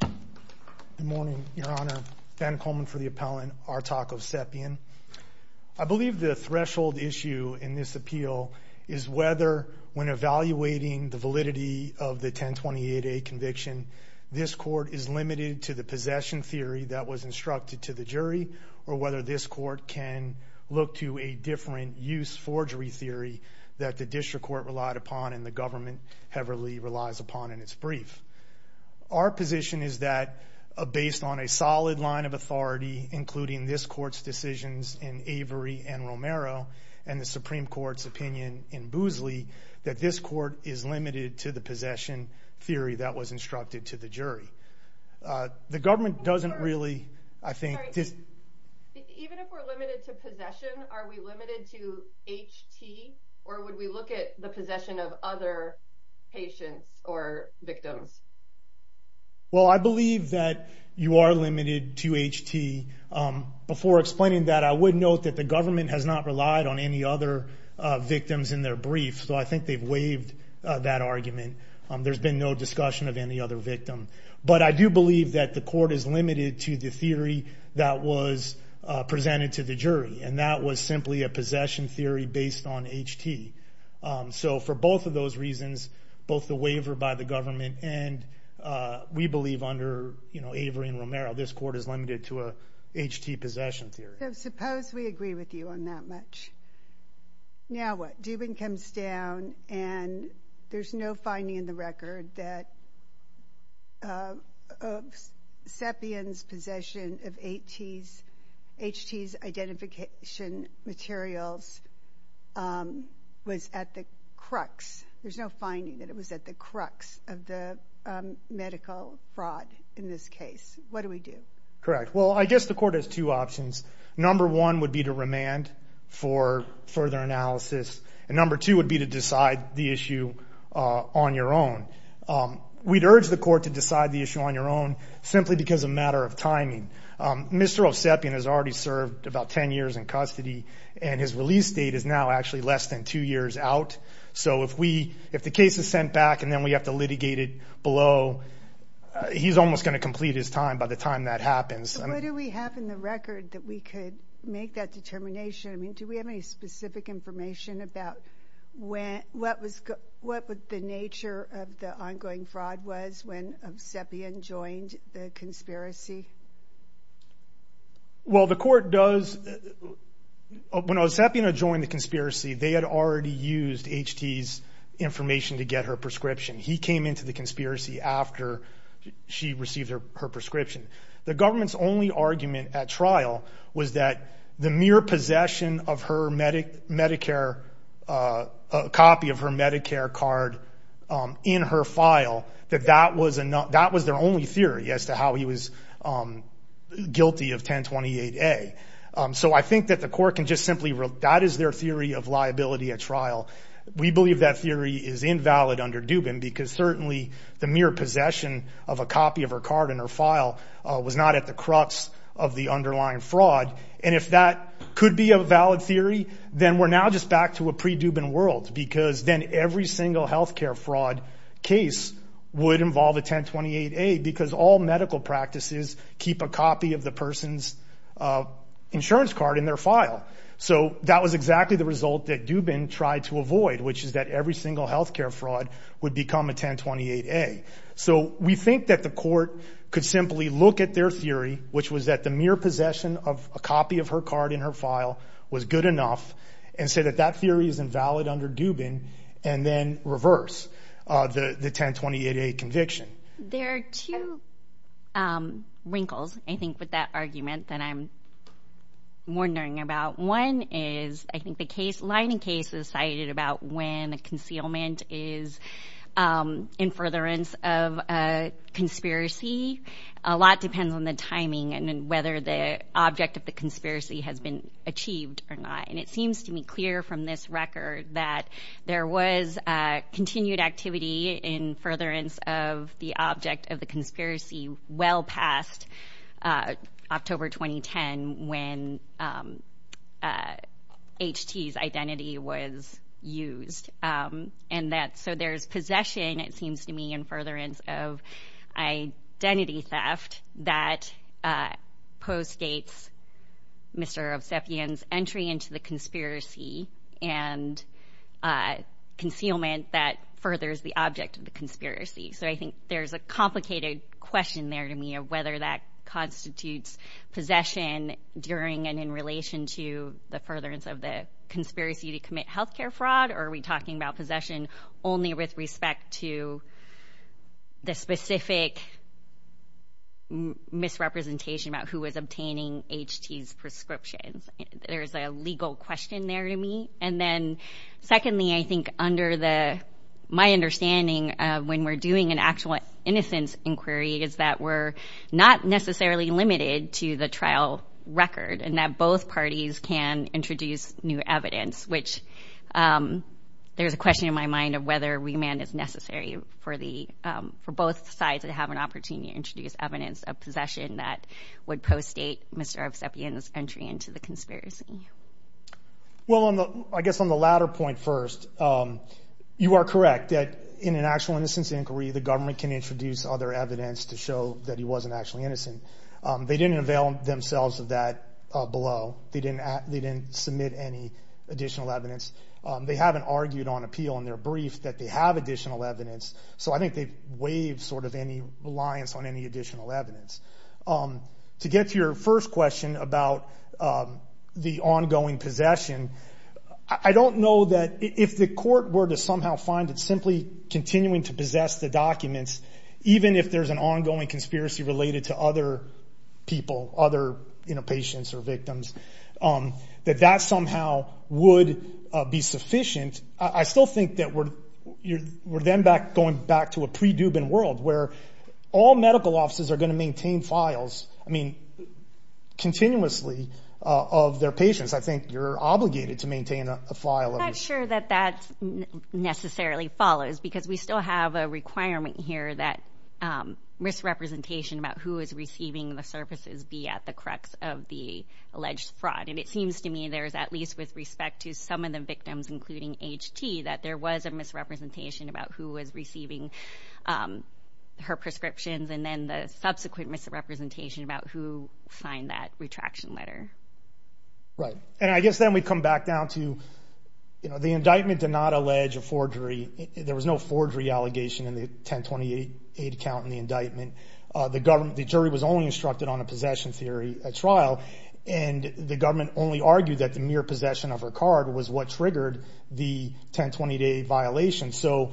Good morning, Your Honor. Ben Coleman for the appellant, Artak Ovsepian. I believe the threshold issue in this appeal is whether, when evaluating the validity of the 1028A conviction, this court is limited to the possession theory that was instructed to the jury or whether this court can look to a different use forgery theory that the district court relied upon and the government heavily relies upon in its brief. Our position is that, based on a solid line of authority, including this court's decisions in Avery and Romero, and the Supreme Court's opinion in Boozley, that this court is limited to the possession theory that was instructed to the jury. The government doesn't really, I think... Even if we're limited to possession, are we limited to HT or would we look at the possession of other patients or victims? Well, I believe that you are limited to HT. Before explaining that, I would note that the government has not relied on any other victims in their brief, so I think they've waived that argument. There's been no discussion of any other victims that was presented to the jury, and that was simply a possession theory based on HT. So for both of those reasons, both the waiver by the government and, we believe, under Avery and Romero, this court is limited to a HT possession theory. So suppose we agree with you on that much. Now what? Dubin comes down and there's no finding in the record that Sepien's possession of HT's identification materials was at the crux. There's no finding that it was at the crux of the medical fraud in this case. What do we do? Correct. Well, I guess the court has two options. Number one would be to remand for further analysis, and number two would be to decide the issue on your own. We'd urge the court to decide the issue on your own simply because of a matter of timing. Mr. Osepian has already served about 10 years in custody, and his release date is now actually less than two years out. So if the case is sent back and then we have to litigate it below, he's almost going to complete his time by the time that happens. What do we have in the record that we could make that determination? I mean, do we have any specific information about what the nature of the ongoing fraud was when Osepian joined the conspiracy? Well, the court does, when Osepian had joined the conspiracy, they had already used HT's information to get her prescription. He came into the conspiracy after she received her prescription. The government's only argument at trial was that the mere possession of her Medicare, a copy of her Medicare card in her file, that that was their only theory as to how he was guilty of 1028A. So I think that the court can just simply, that is their theory of liability at trial. We believe that theory is invalid under Dubin because certainly the mere possession of a copy of her card in her file was not at the crux of the underlying fraud. And if that could be a valid theory, then we're now just back to a pre-Dubin world because then every single healthcare fraud case would involve a 1028A because all medical practices keep a copy of the person's insurance card in their file. So that was exactly the result that Dubin tried to avoid, which is that every single healthcare fraud would become a 1028A. So we think that the court could simply look at their theory, which was that the mere possession of a copy of her card in her file was good enough, and say that that theory is invalid under Dubin, and then reverse the 1028A conviction. There are two wrinkles, I think, with that argument that I'm wondering about. One is, I think the case, lining case is cited about when a concealment is in furtherance of a conspiracy. A lot depends on the timing and whether the object of the conspiracy has been achieved or not. And it seems to me clear from this record that there was continued activity in And that, so there's possession, it seems to me, in furtherance of identity theft that postdates Mr. Obseffian's entry into the conspiracy and concealment that furthers the object of the conspiracy. So I think there's a complicated question there to me of whether that constitutes possession during and in relation to the furtherance of the conspiracy to commit healthcare fraud, or are we talking about possession only with respect to the specific misrepresentation about who was obtaining H.T.'s prescriptions? There's a legal question there to me. And then, secondly, I think under the, my understanding of when we're doing an actual innocence inquiry is that we're not necessarily limited to the trial record, and that both parties can introduce new evidence, which there's a question in my mind of whether remand is necessary for the, for both sides to have an opportunity to introduce evidence of possession that would postdate Mr. Obseffian's entry into the conspiracy. Well, I guess on the latter point first, you are correct that in an actual innocence inquiry, the government can introduce other evidence to show that he wasn't actually innocent. They didn't avail themselves of that below. They didn't submit any additional evidence. They haven't argued on appeal in their brief that they have additional evidence. So I think they've waived sort of any reliance on any additional evidence. To get to your first question about the ongoing possession, I don't know that if the court were to somehow find it simply continuing to possess the documents, even if there's an ongoing conspiracy related to other people, other, you know, patients or victims, that that somehow would be sufficient. I still think that we're, we're then back going back to a pre-Dubin world where all medical offices are going to maintain files, I mean, continuously of their patients. I think you're obligated to maintain a file. I'm not sure that that necessarily follows because we still have a requirement here that misrepresentation about who is receiving the services be at the crux of the alleged fraud. And it seems to me there's at least with respect to some of the victims, including HT, that there was a misrepresentation about who was receiving her prescriptions and then the subsequent misrepresentation about who signed that retraction letter. Right. And I guess then we come back down to, you know, the indictment did not allege a forgery. There was no forgery allegation in the 1028 eight count in the indictment. The government, the jury was only instructed on a possession theory trial, and the government only argued that the mere possession of her card was what triggered the 1028 violation. So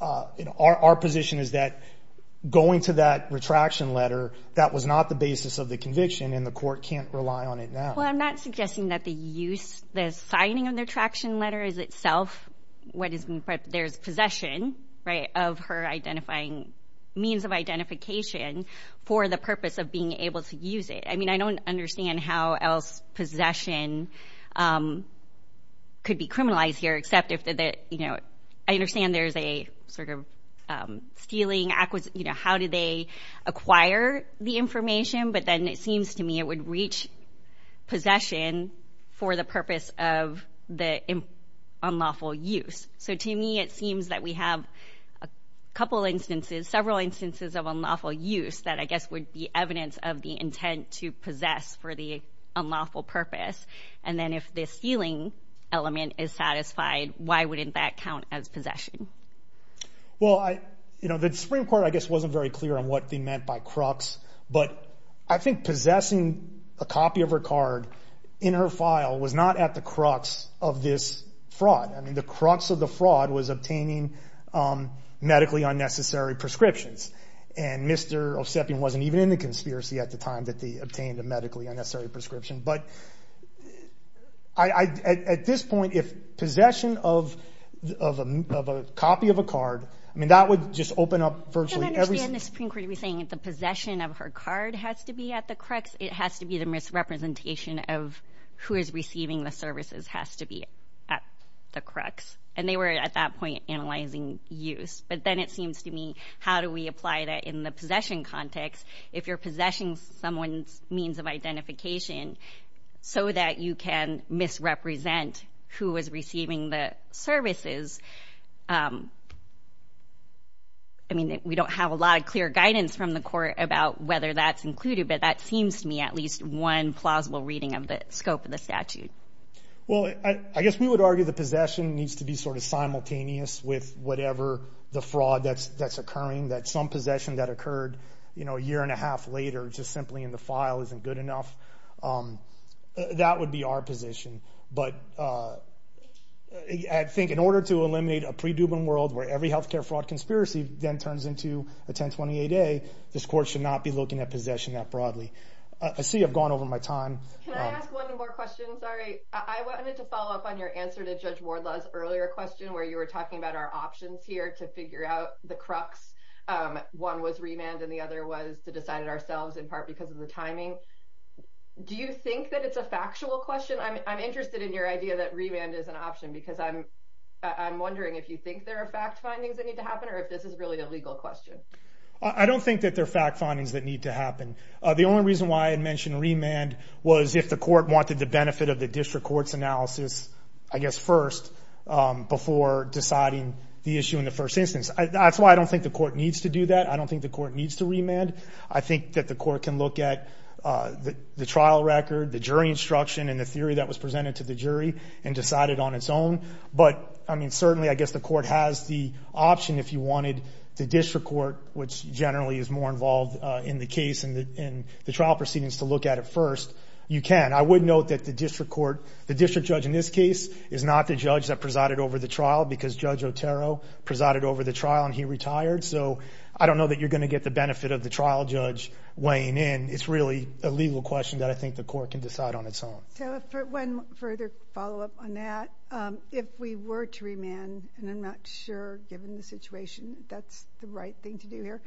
our position is that going to that retraction letter, that was not the basis of the conviction and the court can't rely on it now. Well, I'm not suggesting that the use, the signing of the retraction letter is itself what is, there's possession, right, of her identifying means of identification for the purpose of being able to use it. I mean, I don't understand how else possession could be criminalized here, except if, you know, I understand there's a sort of stealing acquisition, you know, how do they acquire the information? But then it seems to me it would reach possession for the purpose of the unlawful use. So to me, it seems that we have a couple instances, several instances of unlawful use that I guess would be evidence of the intent to possess for the unlawful purpose. And then if this stealing element is satisfied, why wouldn't that count as possession? Well, I, you know, the Supreme Court, I guess, wasn't very clear on what they meant by crux, but I think possessing a copy of her card in her file was not at the crux of this fraud. I mean, the crux of the fraud was obtaining medically unnecessary prescriptions. And Mr. Osepian wasn't even in the conspiracy at the time that they obtained a medically unnecessary prescription. But at this point, if possession of a copy of a card, I mean, that would just open up virtually every... So that you can misrepresent who was receiving the services. I mean, we don't have a lot of clear guidance from the court about whether that's included, but that seems to me at least one plausible reading of the scope of the statute. Well, I guess we would argue the possession needs to be sort of simultaneous with whatever the fraud that's occurring, that some possession that occurred, you know, a year and a half later just simply in the file isn't good enough. That would be our position. But I think in order to eliminate a pre-Dubin world where every healthcare fraud conspiracy then turns into a 1028A, this court should not be looking at possession that broadly. I see I've gone over my time. Can I ask one more question? Sorry. I wanted to follow up on your answer to Judge Wardlaw's earlier question where you were talking about our options here to figure out the crux. One was remand and the other was to decide it ourselves in part because of the timing. Do you think that it's a factual question? I'm interested in your idea that remand is an option because I'm wondering if you think there are fact findings that need to happen or if this is really a legal question. I don't think that there are fact findings that need to happen. The only reason why I had mentioned remand was if the court wanted the benefit of the district court's analysis, I guess, first before deciding the issue in the first instance. That's why I don't think the court needs to do that. I don't think the court needs to remand. I think that the court can look at the trial record, the jury instruction, and the theory that was presented to the jury and decide it on its own. Certainly, I guess, the court has the option if you wanted the district court, which generally is more involved in the case and the trial proceedings, to look at it first. You can. I would note that the district judge in this case is not the judge that presided over the trial because Judge Otero presided over the trial and he retired. I don't know that you're going to get the benefit of the trial judge weighing in. It's really a legal question that I think the court can decide on its own. One further follow-up on that. If we were to remand, and I'm not sure given the situation that that's the right thing to do here,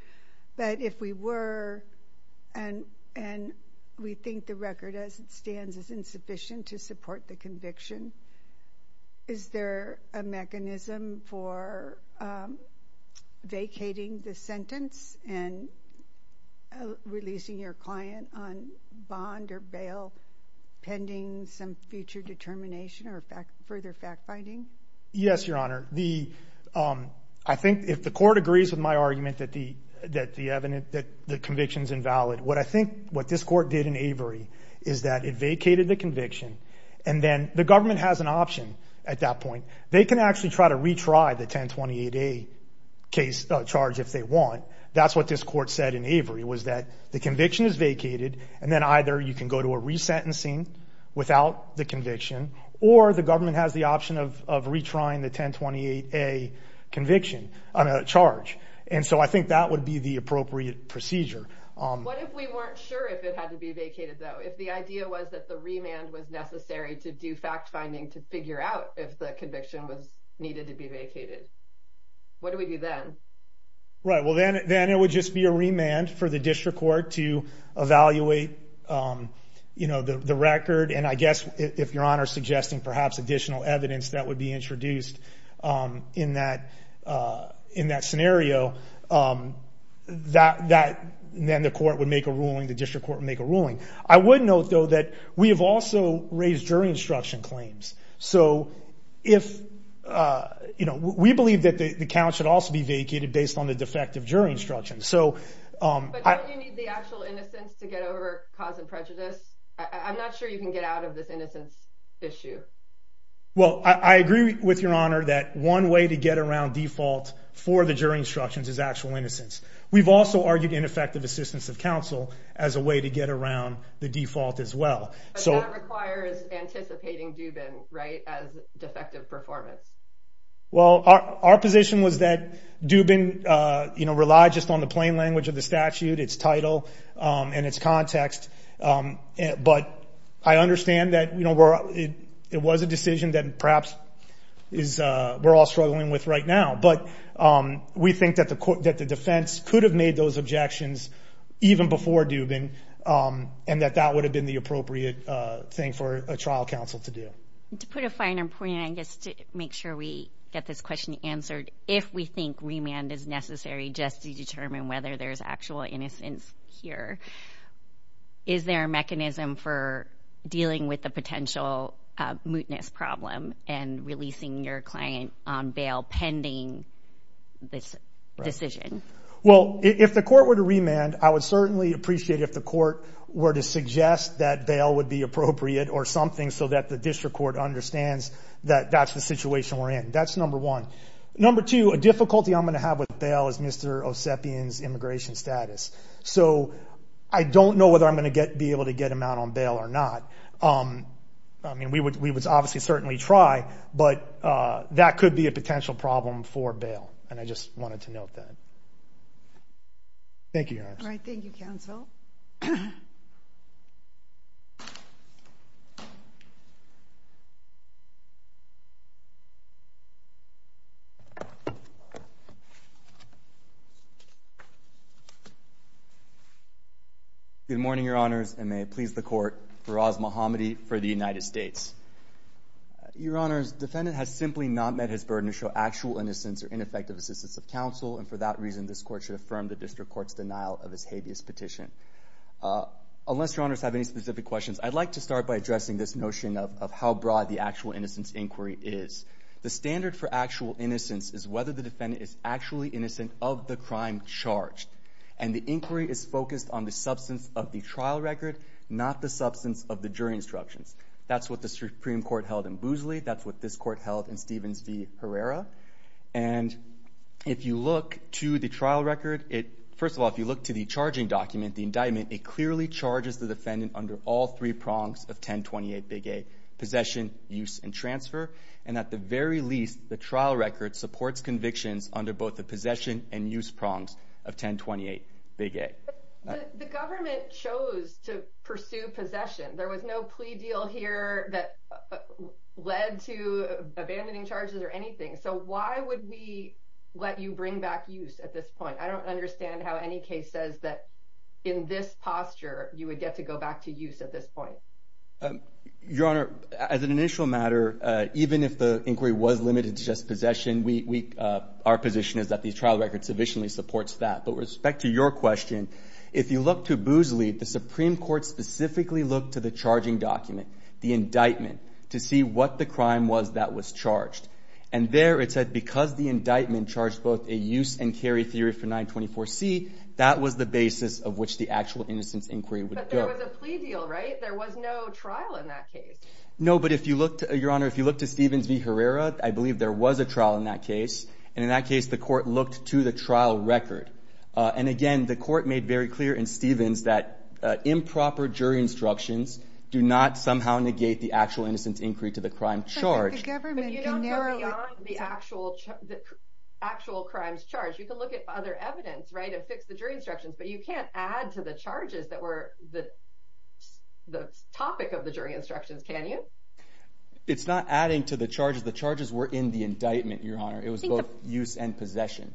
but if we were and we think the record as it stands is insufficient to support the conviction, is there a mechanism for vacating the sentence and releasing your client on bond or bail pending? Yes, Your Honor. I think if the court agrees with my argument that the conviction is invalid, what I think what this court did in Avery is that it vacated the conviction and then the government has an option at that point. They can actually try to retry the 1028A case charge if they want. That's what this court said in Avery was that the conviction is vacated and then either you can go to a resentencing or you can go to a trial. Without the conviction or the government has the option of retrying the 1028A charge. I think that would be the appropriate procedure. What if we weren't sure if it had to be vacated though? If the idea was that the remand was necessary to do fact-finding to figure out if the conviction was needed to be vacated? What do we do then? Right, well then it would just be a remand for the district court to evaluate the record and I guess if Your Honor is suggesting perhaps additional evidence that would be introduced in that scenario, then the court would make a ruling, the district court would make a ruling. I would note though that we have also raised jury instruction claims. We believe that the count should also be vacated based on the defective jury instruction. But don't you need the actual innocence to get over cause and prejudice? I'm not sure you can get out of this innocence issue. Well, I agree with Your Honor that one way to get around default for the jury instructions is actual innocence. We've also argued ineffective assistance of counsel as a way to get around the default as well. But that requires anticipating Dubin as defective performance. Well, our position was that Dubin relied just on the plain language of the statute, its title, and its context. But I understand that it was a decision that perhaps we're all struggling with right now. But we think that the defense could have made those objections even before Dubin and that that would have been the appropriate thing for a trial counsel to do. To put a finer point, and I guess to make sure we get this question answered, if we think remand is necessary just to determine whether there's actual innocence here, is there a mechanism for dealing with the potential mootness problem and releasing your client on bail pending this decision? Well, if the court were to remand, I would certainly appreciate if the court were to suggest that bail would be appropriate or something so that the district court understands that that's the situation we're in. That's number one. Number two, a difficulty I'm going to have with bail is Mr. Osepian's immigration status. So I don't know whether I'm going to be able to get him out on bail or not. I mean, we would obviously certainly try, but that could be a potential problem for bail. And I just wanted to note that. Thank you, Your Honor. All right. Thank you, counsel. Good morning, Your Honors, and may it please the court, Faraz Mohammadi for the United States. Your Honors, defendant has simply not met his burden to show actual innocence or ineffective assistance of counsel, and for that reason, this court should affirm the district court's denial of his habeas petition. Unless Your Honors have any specific questions, I'd like to start by addressing this notion of how broad the actual innocence inquiry is. The standard for actual innocence is whether the defendant is actually innocent of the crime charged. And the inquiry is focused on the substance of the trial record, not the substance of the jury instructions. That's what the Supreme Court held in Boozley. That's what this court held in Stevens v. Herrera. And if you look to the trial record, first of all, if you look to the charging document, the indictment, it clearly charges the defendant under all three prongs of 1028 Big A, possession, use, and transfer. And at the very least, the trial record supports convictions under both the possession and use prongs of 1028 Big A. The government chose to pursue possession. There was no plea deal here that led to abandoning charges or anything. So why would we let you bring back use at this point? I don't understand how any case says that in this posture, you would get to go back to use at this point. Your Honor, as an initial matter, even if the inquiry was limited to just possession, our position is that the trial record sufficiently supports that. But with respect to your question, if you look to Boozley, the Supreme Court specifically looked to the charging document, the indictment, to see what the crime was that was charged. And there it said because the indictment charged both a use and carry theory for 924C, that was the basis of which the actual innocence inquiry would go. But there was a plea deal, right? There was no trial in that case. No, but if you look to, Your Honor, if you look to Stevens v. Herrera, I believe there was a trial in that case. And in that case, the court looked to the trial record. And again, the court made very clear in Stevens that improper jury instructions do not somehow negate the actual innocence inquiry to the crime charge. But you don't go beyond the actual crime's charge. You can look at other evidence, right, and fix the jury instructions, but you can't add to the charges that were the topic of the jury instructions, can you? It's not adding to the charges. The charges were in the indictment, Your Honor. It was both use and possession.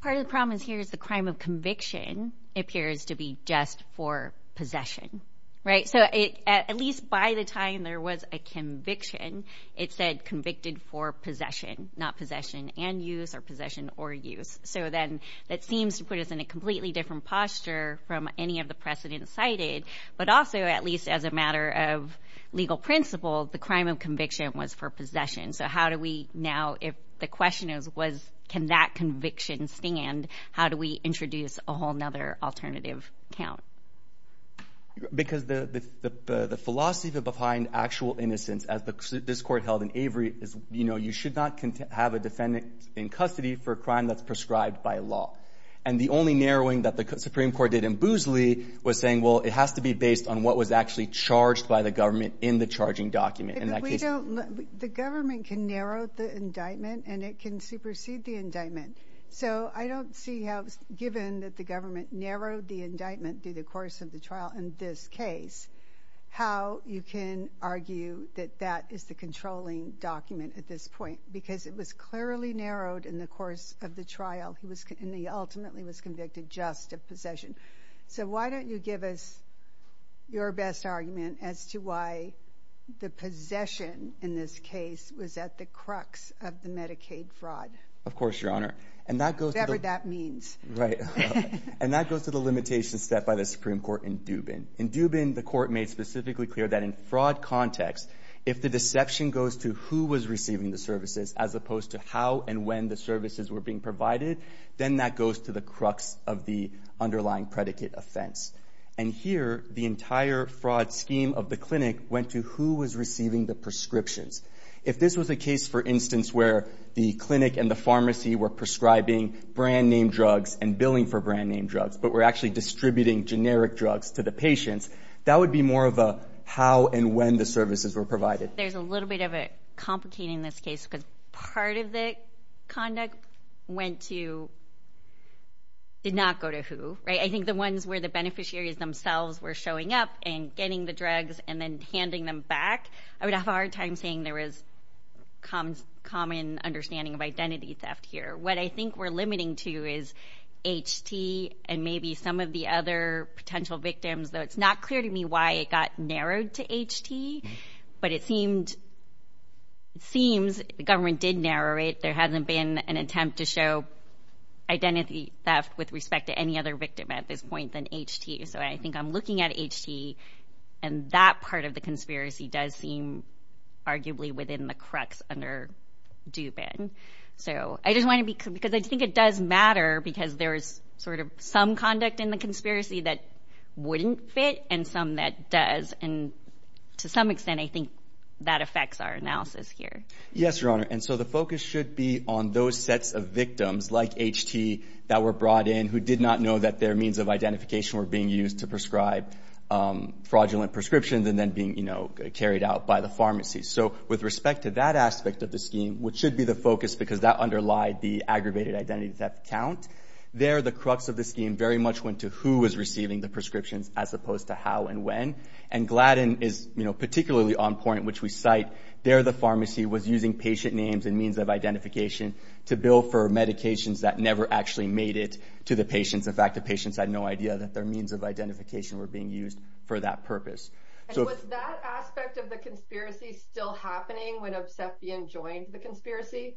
Part of the problem here is the crime of conviction appears to be just for possession, right? So at least by the time there was a conviction, it said convicted for possession, not possession and use or possession or use. So then that seems to put us in a completely different posture from any of the precedents cited. But also, at least as a matter of legal principle, the crime of conviction was for possession. So how do we now, if the question is can that conviction stand, how do we introduce a whole other alternative count? Because the philosophy behind actual innocence, as this court held in Avery, is, you know, you should not have a defendant in custody for a crime that's prescribed by law. And the only narrowing that the Supreme Court did in Boosley was saying, well, it has to be based on what was actually charged by the government in the charging document. The government can narrow the indictment, and it can supersede the indictment. So I don't see how, given that the government narrowed the indictment through the course of the trial in this case, how you can argue that that is the controlling document at this point. Because it was clearly narrowed in the course of the trial, and he ultimately was convicted just of possession. So why don't you give us your best argument as to why the possession in this case was at the crux of the Medicaid fraud. Of course, Your Honor. Whatever that means. Right. And that goes to the limitation set by the Supreme Court in Dubin. In Dubin, the court made specifically clear that in fraud context, if the deception goes to who was receiving the services as opposed to how and when the services were being provided, then that goes to the crux of the underlying predicate offense. And here, the entire fraud scheme of the clinic went to who was receiving the prescriptions. If this was a case, for instance, where the clinic and the pharmacy were prescribing brand-name drugs and billing for brand-name drugs, but were actually distributing generic drugs to the patients, that would be more of a how and when the services were provided. There's a little bit of a complication in this case because part of the conduct went to did not go to who. I think the ones where the beneficiaries themselves were showing up and getting the drugs and then handing them back, I would have a hard time saying there was common understanding of identity theft here. What I think we're limiting to is HT and maybe some of the other potential victims, though it's not clear to me why it got narrowed to HT, but it seems the government did narrow it. There hasn't been an attempt to show identity theft with respect to any other victim at this point than HT. So I think I'm looking at HT, and that part of the conspiracy does seem arguably within the crux under Dubin. I think it does matter because there is some conduct in the conspiracy that wouldn't fit and some that does. To some extent, I think that affects our analysis here. Yes, Your Honor, and so the focus should be on those sets of victims like HT that were brought in who did not know that their means of identification were being used to prescribe fraudulent prescriptions and then being carried out by the pharmacy. So with respect to that aspect of the scheme, which should be the focus because that underlied the aggravated identity theft count, there the crux of the scheme very much went to who was receiving the prescriptions as opposed to how and when. And Gladden is particularly on point, which we cite. There the pharmacy was using patient names and means of identification to bill for medications that never actually made it to the patients. In fact, the patients had no idea that their means of identification were being used for that purpose. And was that aspect of the conspiracy still happening when Obsefian joined the conspiracy?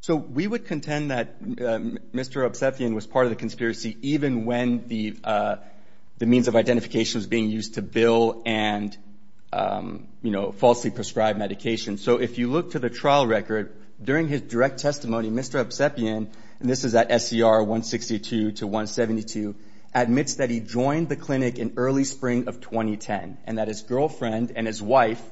So we would contend that Mr. Obsefian was part of the conspiracy, even when the means of identification was being used to bill and falsely prescribe medications. So if you look to the trial record, during his direct testimony, Mr. Obsefian, and this is at SCR 162 to 172, admits that he joined the clinic in early spring of 2010 and that his girlfriend and his wife,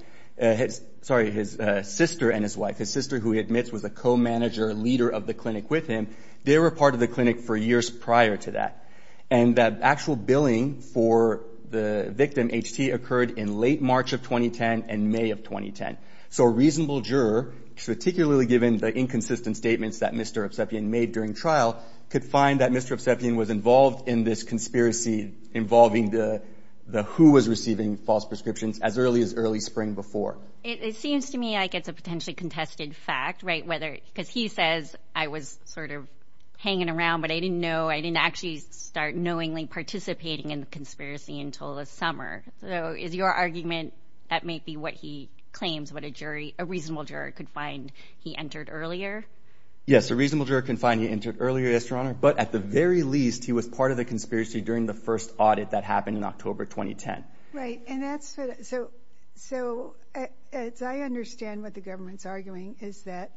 sorry, his sister and his wife, his sister who he admits was a co-manager, leader of the clinic with him, they were part of the clinic for years prior to that. And that actual billing for the victim, HT, occurred in late March of 2010 and May of 2010. So a reasonable juror, particularly given the inconsistent statements that Mr. Obsefian made during trial, could find that Mr. Obsefian was involved in this conspiracy involving the who was receiving false prescriptions as early as early spring before. It seems to me like it's a potentially contested fact, right? Because he says, I was sort of hanging around, but I didn't know, I didn't actually start knowingly participating in the conspiracy until the summer. So is your argument that may be what he claims, what a jury, a reasonable juror could find he entered earlier? Yes, a reasonable juror can find he entered earlier, yes, Your Honor. But at the very least, he was part of the conspiracy during the first audit that happened in October 2010. Right, and that's what, so as I understand what the government's arguing, is that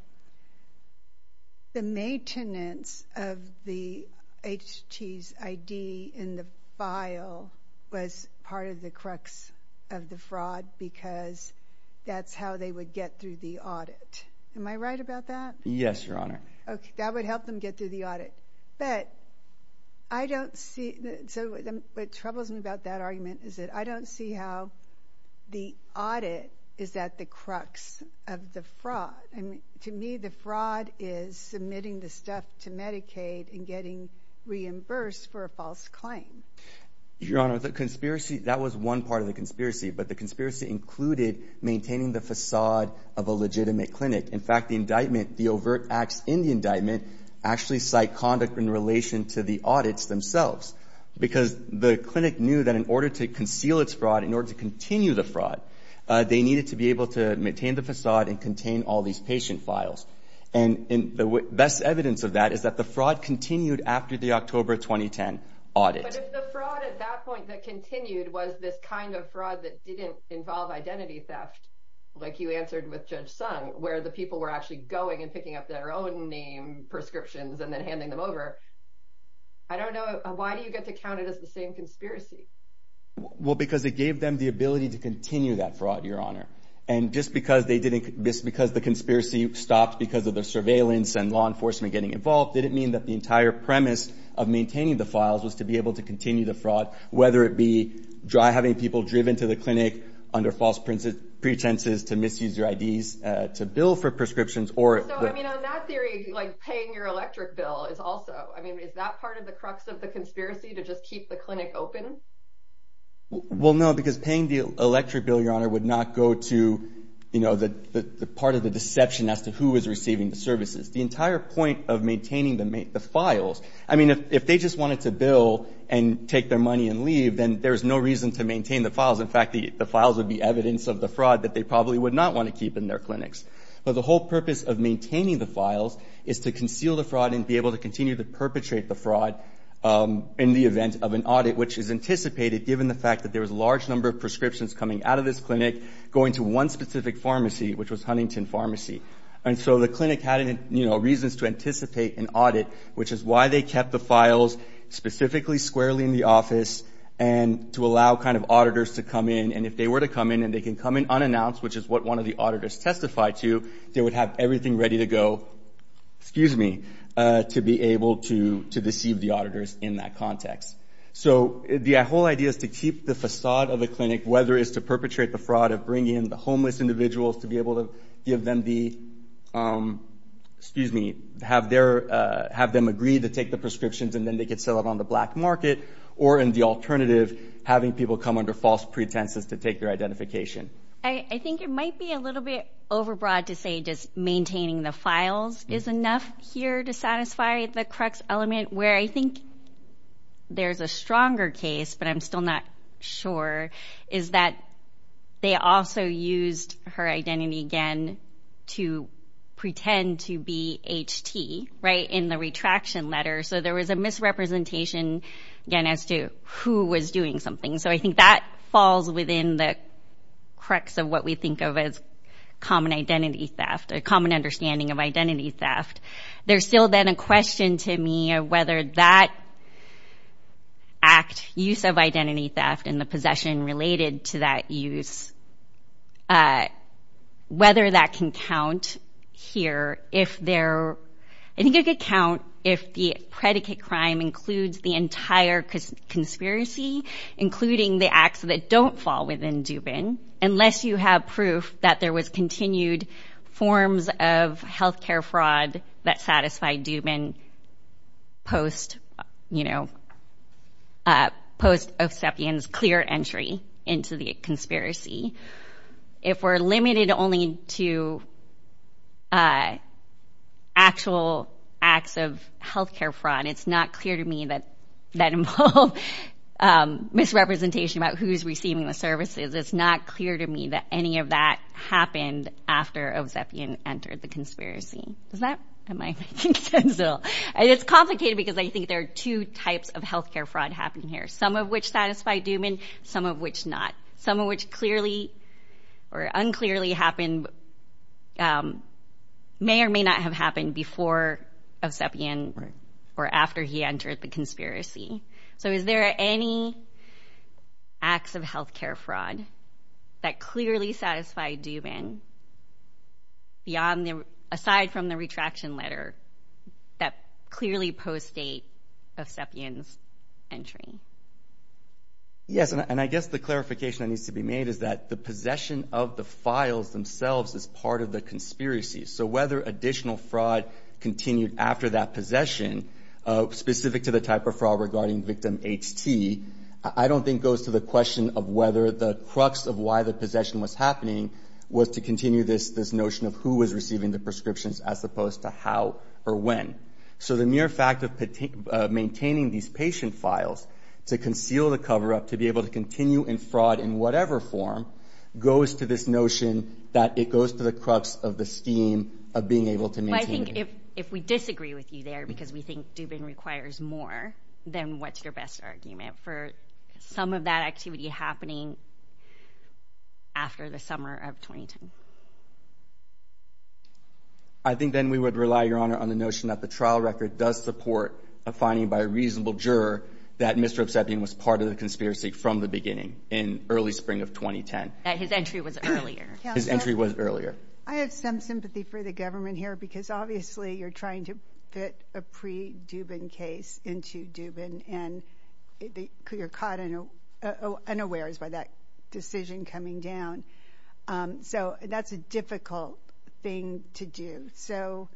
the maintenance of the HT's ID in the file was part of the crux of the fraud because that's how they would get through the audit. Am I right about that? Yes, Your Honor. Okay, that would help them get through the audit. But I don't see, so what troubles me about that argument is that I don't see how the audit is at the crux of the fraud. To me, the fraud is submitting the stuff to Medicaid and getting reimbursed for a false claim. Your Honor, the conspiracy, that was one part of the conspiracy, but the conspiracy included maintaining the facade of a legitimate clinic. In fact, the indictment, the overt acts in the indictment, actually cite conduct in relation to the audits themselves because the clinic knew that in order to conceal its fraud, in order to continue the fraud, they needed to be able to maintain the facade and contain all these patient files. And the best evidence of that is that the fraud continued after the October 2010 audit. But if the fraud at that point that continued was this kind of fraud that didn't involve identity theft, like you answered with Judge Sung, where the people were actually going and picking up their own name prescriptions and then handing them over, I don't know, why do you get to count it as the same conspiracy? Well, because it gave them the ability to continue that fraud, Your Honor. And just because the conspiracy stopped because of the surveillance and law enforcement getting involved didn't mean that the entire premise of maintaining the files was to be able to continue the fraud, whether it be having people driven to the clinic under false pretenses to misuse their IDs to bill for prescriptions. So, I mean, on that theory, like paying your electric bill is also, I mean, is that part of the crux of the conspiracy to just keep the clinic open? Well, no, because paying the electric bill, Your Honor, would not go to, you know, the part of the deception as to who is receiving the services. The entire point of maintaining the files, I mean, if they just wanted to bill and take their money and leave, then there's no reason to maintain the files. In fact, the files would be evidence of the fraud that they probably would not want to keep in their clinics. But the whole purpose of maintaining the files is to conceal the fraud and be able to continue to perpetrate the fraud in the event of an audit, which is anticipated given the fact that there was a large number of prescriptions coming out of this clinic, going to one specific pharmacy, which was Huntington Pharmacy. And so the clinic had, you know, reasons to anticipate an audit, which is why they kept the files specifically squarely in the office and to allow kind of auditors to come in. And if they were to come in and they can come in unannounced, which is what one of the auditors testified to, they would have everything ready to go, excuse me, to be able to deceive the auditors in that context. So the whole idea is to keep the facade of the clinic, whether it's to perpetrate the fraud of bringing in the homeless individuals to be able to give them the, excuse me, have them agree to take the prescriptions and then they could sell it on the black market, or in the alternative, having people come under false pretenses to take their identification. I think it might be a little bit overbroad to say just maintaining the files is enough here to satisfy the crux element, where I think there's a stronger case, but I'm still not sure, is that they also used her identity again to pretend to be HT, right, in the retraction letter. So there was a misrepresentation again as to who was doing something. So I think that falls within the crux of what we think of as common identity theft, a common understanding of identity theft. There's still then a question to me of whether that act, use of identity theft, and the possession related to that use, whether that can count here. I think it could count if the predicate crime includes the entire conspiracy, including the acts that don't fall within Dubin, unless you have proof that there was continued forms of health care fraud that satisfied Dubin post-Osepian's clear entry into the conspiracy. If we're limited only to actual acts of health care fraud, it's not clear to me that that involved misrepresentation about who's receiving the services. It's not clear to me that any of that happened after Osepian entered the conspiracy. Am I making sense at all? It's complicated because I think there are two types of health care fraud happening here, some of which satisfy Dubin, some of which not, some of which clearly or unclearly happened, may or may not have happened before Osepian or after he entered the conspiracy. So is there any acts of health care fraud that clearly satisfied Dubin aside from the retraction letter that clearly post-date Osepian's entry? Yes, and I guess the clarification that needs to be made is that the possession of the files themselves is part of the conspiracy. So whether additional fraud continued after that possession, specific to the type of fraud regarding victim HT, I don't think goes to the question of whether the crux of why the possession was happening was to continue this notion of who was receiving the prescriptions as opposed to how or when. So the mere fact of maintaining these patient files to conceal the cover-up, to be able to continue in fraud in whatever form, goes to this notion that it goes to the crux of the scheme of being able to maintain it. Well, I think if we disagree with you there because we think Dubin requires more, then what's your best argument for some of that activity happening after the summer of 2010? I think then we would rely, Your Honor, on the notion that the trial record does support a finding by a reasonable juror that Mr. Osepian was part of the conspiracy from the beginning in early spring of 2010. That his entry was earlier. His entry was earlier. I have some sympathy for the government here because obviously you're trying to fit a pre-Dubin case into Dubin and you're caught unawares by that decision coming down. So that's a difficult thing to do. So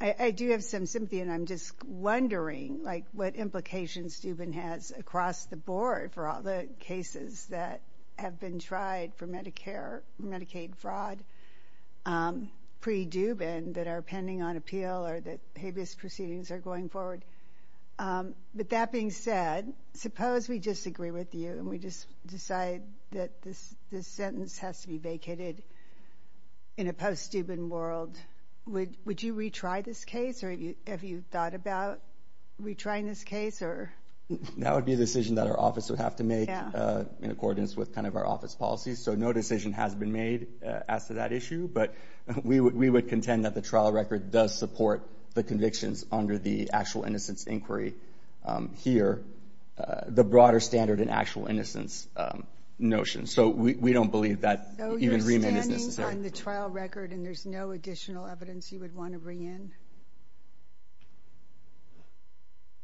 I do have some sympathy and I'm just wondering what implications Dubin has across the board for all the cases that have been tried for Medicare, Medicaid fraud pre-Dubin that are pending on appeal or that habeas proceedings are going forward. But that being said, suppose we disagree with you and we just decide that this sentence has to be vacated in a post-Dubin world. Would you retry this case or have you thought about retrying this case? That would be a decision that our office would have to make in accordance with our office policies. So no decision has been made as to that issue. But we would contend that the trial record does support the convictions under the actual innocence inquiry here. The broader standard in actual innocence notion. So we don't believe that even remand is necessary. So you're standing on the trial record and there's no additional evidence you would want to bring in?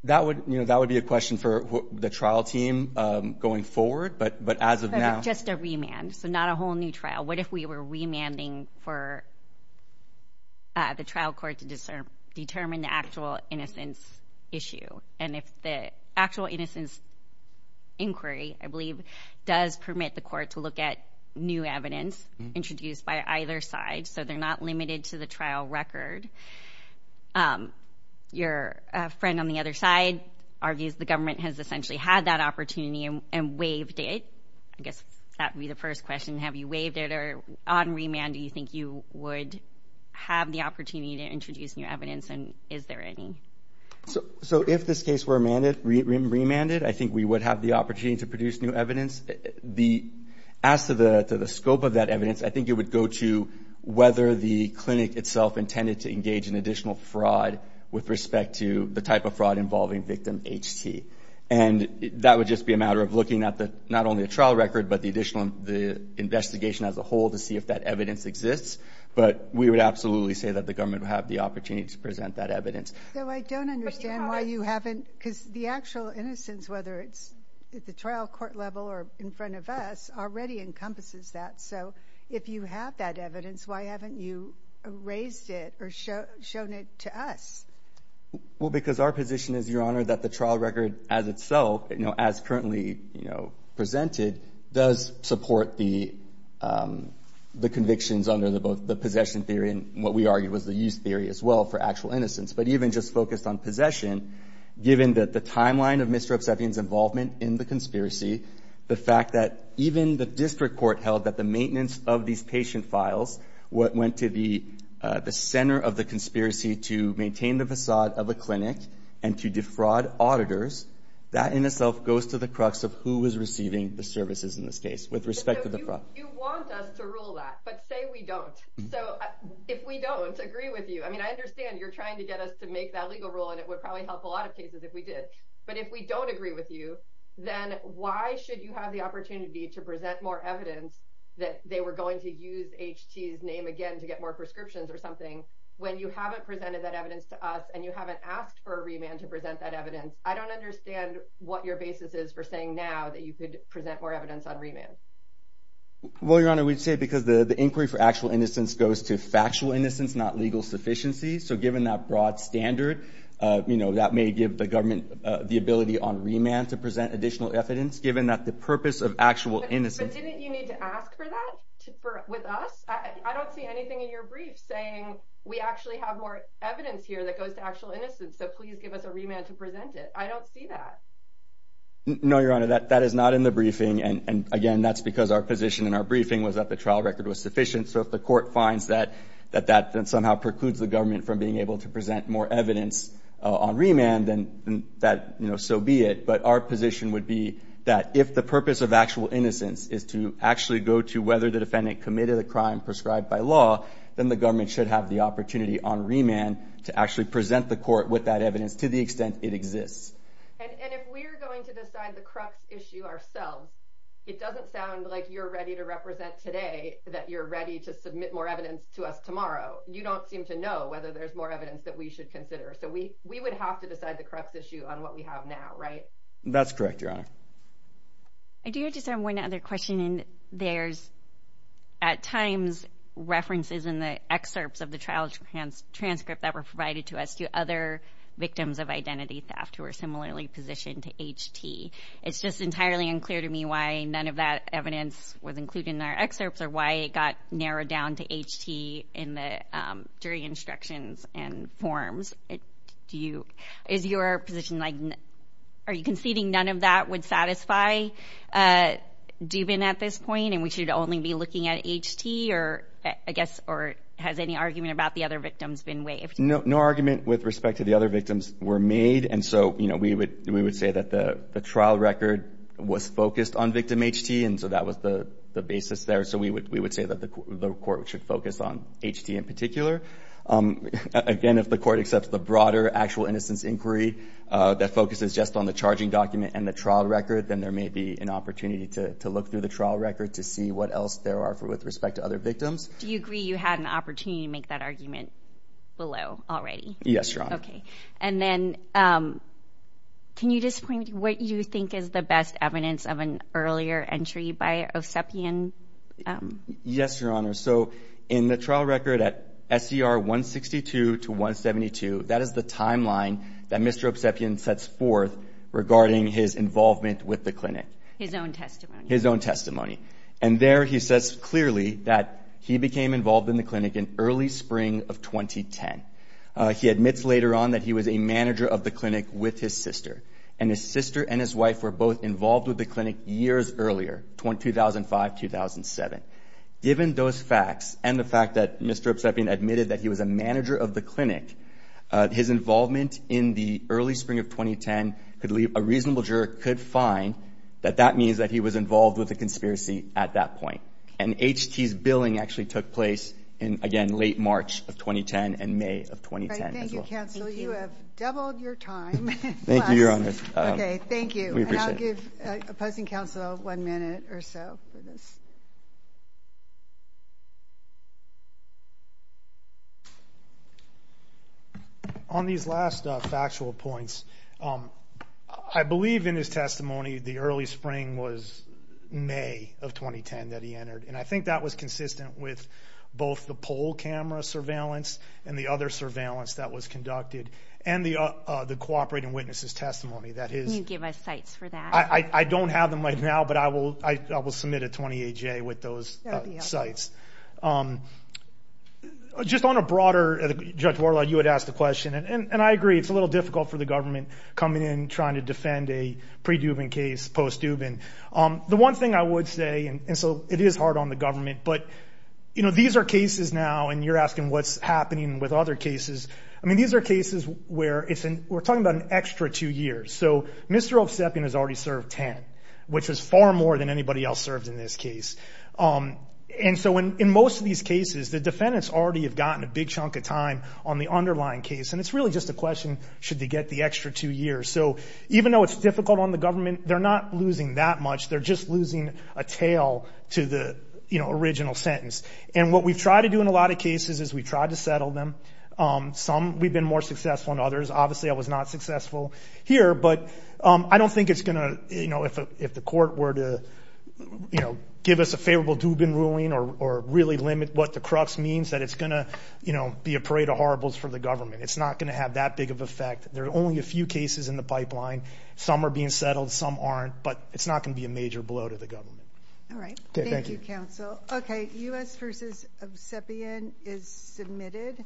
That would be a question for the trial team going forward. But as of now. But just a remand. So not a whole new trial. What if we were remanding for the trial court to determine the actual innocence issue? And if the actual innocence inquiry, I believe, does permit the court to look at new evidence introduced by either side. So they're not limited to the trial record. Your friend on the other side argues the government has essentially had that opportunity and waived it. I guess that would be the first question. Have you waived it? Or on remand, do you think you would have the opportunity to introduce new evidence? And is there any? So if this case were remanded, I think we would have the opportunity to produce new evidence. As to the scope of that evidence, I think it would go to whether the clinic itself intended to engage in additional fraud with respect to the type of fraud involving victim HT. And that would just be a matter of looking at not only the trial record but the investigation as a whole to see if that evidence exists. But we would absolutely say that the government would have the opportunity to present that evidence. So I don't understand why you haven't. Because the actual innocence, whether it's at the trial court level or in front of us, already encompasses that. So if you have that evidence, why haven't you raised it or shown it to us? Well, because our position is, Your Honor, that the trial record as itself, as currently presented, does support the convictions under both the possession theory and what we argue was the use theory as well for actual innocence. But even just focused on possession, given that the timeline of Mr. Obseffian's involvement in the conspiracy, the fact that even the district court held that the maintenance of these patient files went to the center of the conspiracy to maintain the facade of a clinic and to defraud auditors, that in itself goes to the crux of who was receiving the services in this case with respect to the fraud. You want us to rule that, but say we don't. So if we don't, agree with you. I mean, I understand you're trying to get us to make that legal rule, and it would probably help a lot of cases if we did. But if we don't agree with you, then why should you have the opportunity to present more evidence that they were going to use H.T.'s name again to get more prescriptions or something when you haven't presented that evidence to us and you haven't asked for a remand to present that evidence? I don't understand what your basis is for saying now that you could present more evidence on remand. Well, Your Honor, we'd say because the inquiry for actual innocence goes to factual innocence, not legal sufficiency. So given that broad standard, that may give the government the ability on remand to present additional evidence, given that the purpose of actual innocence But didn't you need to ask for that with us? I don't see anything in your brief saying we actually have more evidence here that goes to actual innocence, so please give us a remand to present it. I don't see that. No, Your Honor, that is not in the briefing. And again, that's because our position in our briefing was that the trial record was sufficient. So if the court finds that that somehow precludes the government from being able to present more evidence on remand, then so be it. But our position would be that if the purpose of actual innocence is to actually go to whether the defendant committed a crime prescribed by law, then the government should have the opportunity on remand to actually present the court with that evidence to the extent it exists. And if we're going to decide the crux issue ourselves, it doesn't sound like you're ready to represent today that you're ready to submit more evidence to us tomorrow. You don't seem to know whether there's more evidence that we should consider. So we would have to decide the crux issue on what we have now, right? That's correct, Your Honor. I do have just one other question. There's at times references in the excerpts of the trial transcript that were provided to us to other victims of identity theft who are similarly positioned to HT. It's just entirely unclear to me why none of that evidence was included in our excerpts or why it got narrowed down to HT during instructions and forms. Is your position like are you conceding none of that would satisfy Dubin at this point and we should only be looking at HT or has any argument about the other victims been waived? No argument with respect to the other victims were made, and so we would say that the trial record was focused on victim HT, and so that was the basis there. So we would say that the court should focus on HT in particular. Again, if the court accepts the broader actual innocence inquiry that focuses just on the charging document and the trial record, then there may be an opportunity to look through the trial record to see what else there are with respect to other victims. Do you agree you had an opportunity to make that argument below already? Yes, Your Honor. Okay. And then can you just point me to what you think is the best evidence of an earlier entry by Osepian? Yes, Your Honor. So in the trial record at SCR 162 to 172, that is the timeline that Mr. Osepian sets forth regarding his involvement with the clinic. His own testimony. His own testimony. And there he says clearly that he became involved in the clinic in early spring of 2010. He admits later on that he was a manager of the clinic with his sister, and his sister and his wife were both involved with the clinic years earlier, 2005-2007. Given those facts and the fact that Mr. Osepian admitted that he was a manager of the clinic, his involvement in the early spring of 2010 could leave a reasonable juror could find that that means that he was involved with a conspiracy at that point. And HT's billing actually took place in, again, late March of 2010 and May of 2010 as well. Thank you, counsel. You have doubled your time. Thank you, Your Honor. Okay, thank you. And I'll give opposing counsel one minute or so for this. On these last factual points, I believe in his testimony the early spring was May of 2010 that he entered, and I think that was consistent with both the poll camera surveillance and the other surveillance that was conducted, and the cooperating witnesses' testimony. Can you give us sites for that? I don't have them right now, but I will submit a 28-J with those sites. Just on a broader, Judge Warlaw, you had asked the question, and I agree, it's a little difficult for the government coming in trying to defend a pre-Dubin case, post-Dubin. The one thing I would say, and so it is hard on the government, but, you know, these are cases now, and you're asking what's happening with other cases. I mean, these are cases where we're talking about an extra two years. So Mr. Osepian has already served 10, which is far more than anybody else served in this case. And so in most of these cases, the defendants already have gotten a big chunk of time on the underlying case, and it's really just a question should they get the extra two years. So even though it's difficult on the government, they're not losing that much. They're just losing a tail to the, you know, original sentence. And what we've tried to do in a lot of cases is we've tried to settle them. Some we've been more successful than others. Obviously, I was not successful here, but I don't think it's going to, you know, if the court were to, you know, give us a favorable Dubin ruling or really limit what the crux means, that it's going to, you know, be a parade of horribles for the government. It's not going to have that big of an effect. There are only a few cases in the pipeline. Some are being settled. Some aren't. But it's not going to be a major blow to the government. All right. Thank you, counsel. Okay, U.S. v. Osepian is submitted.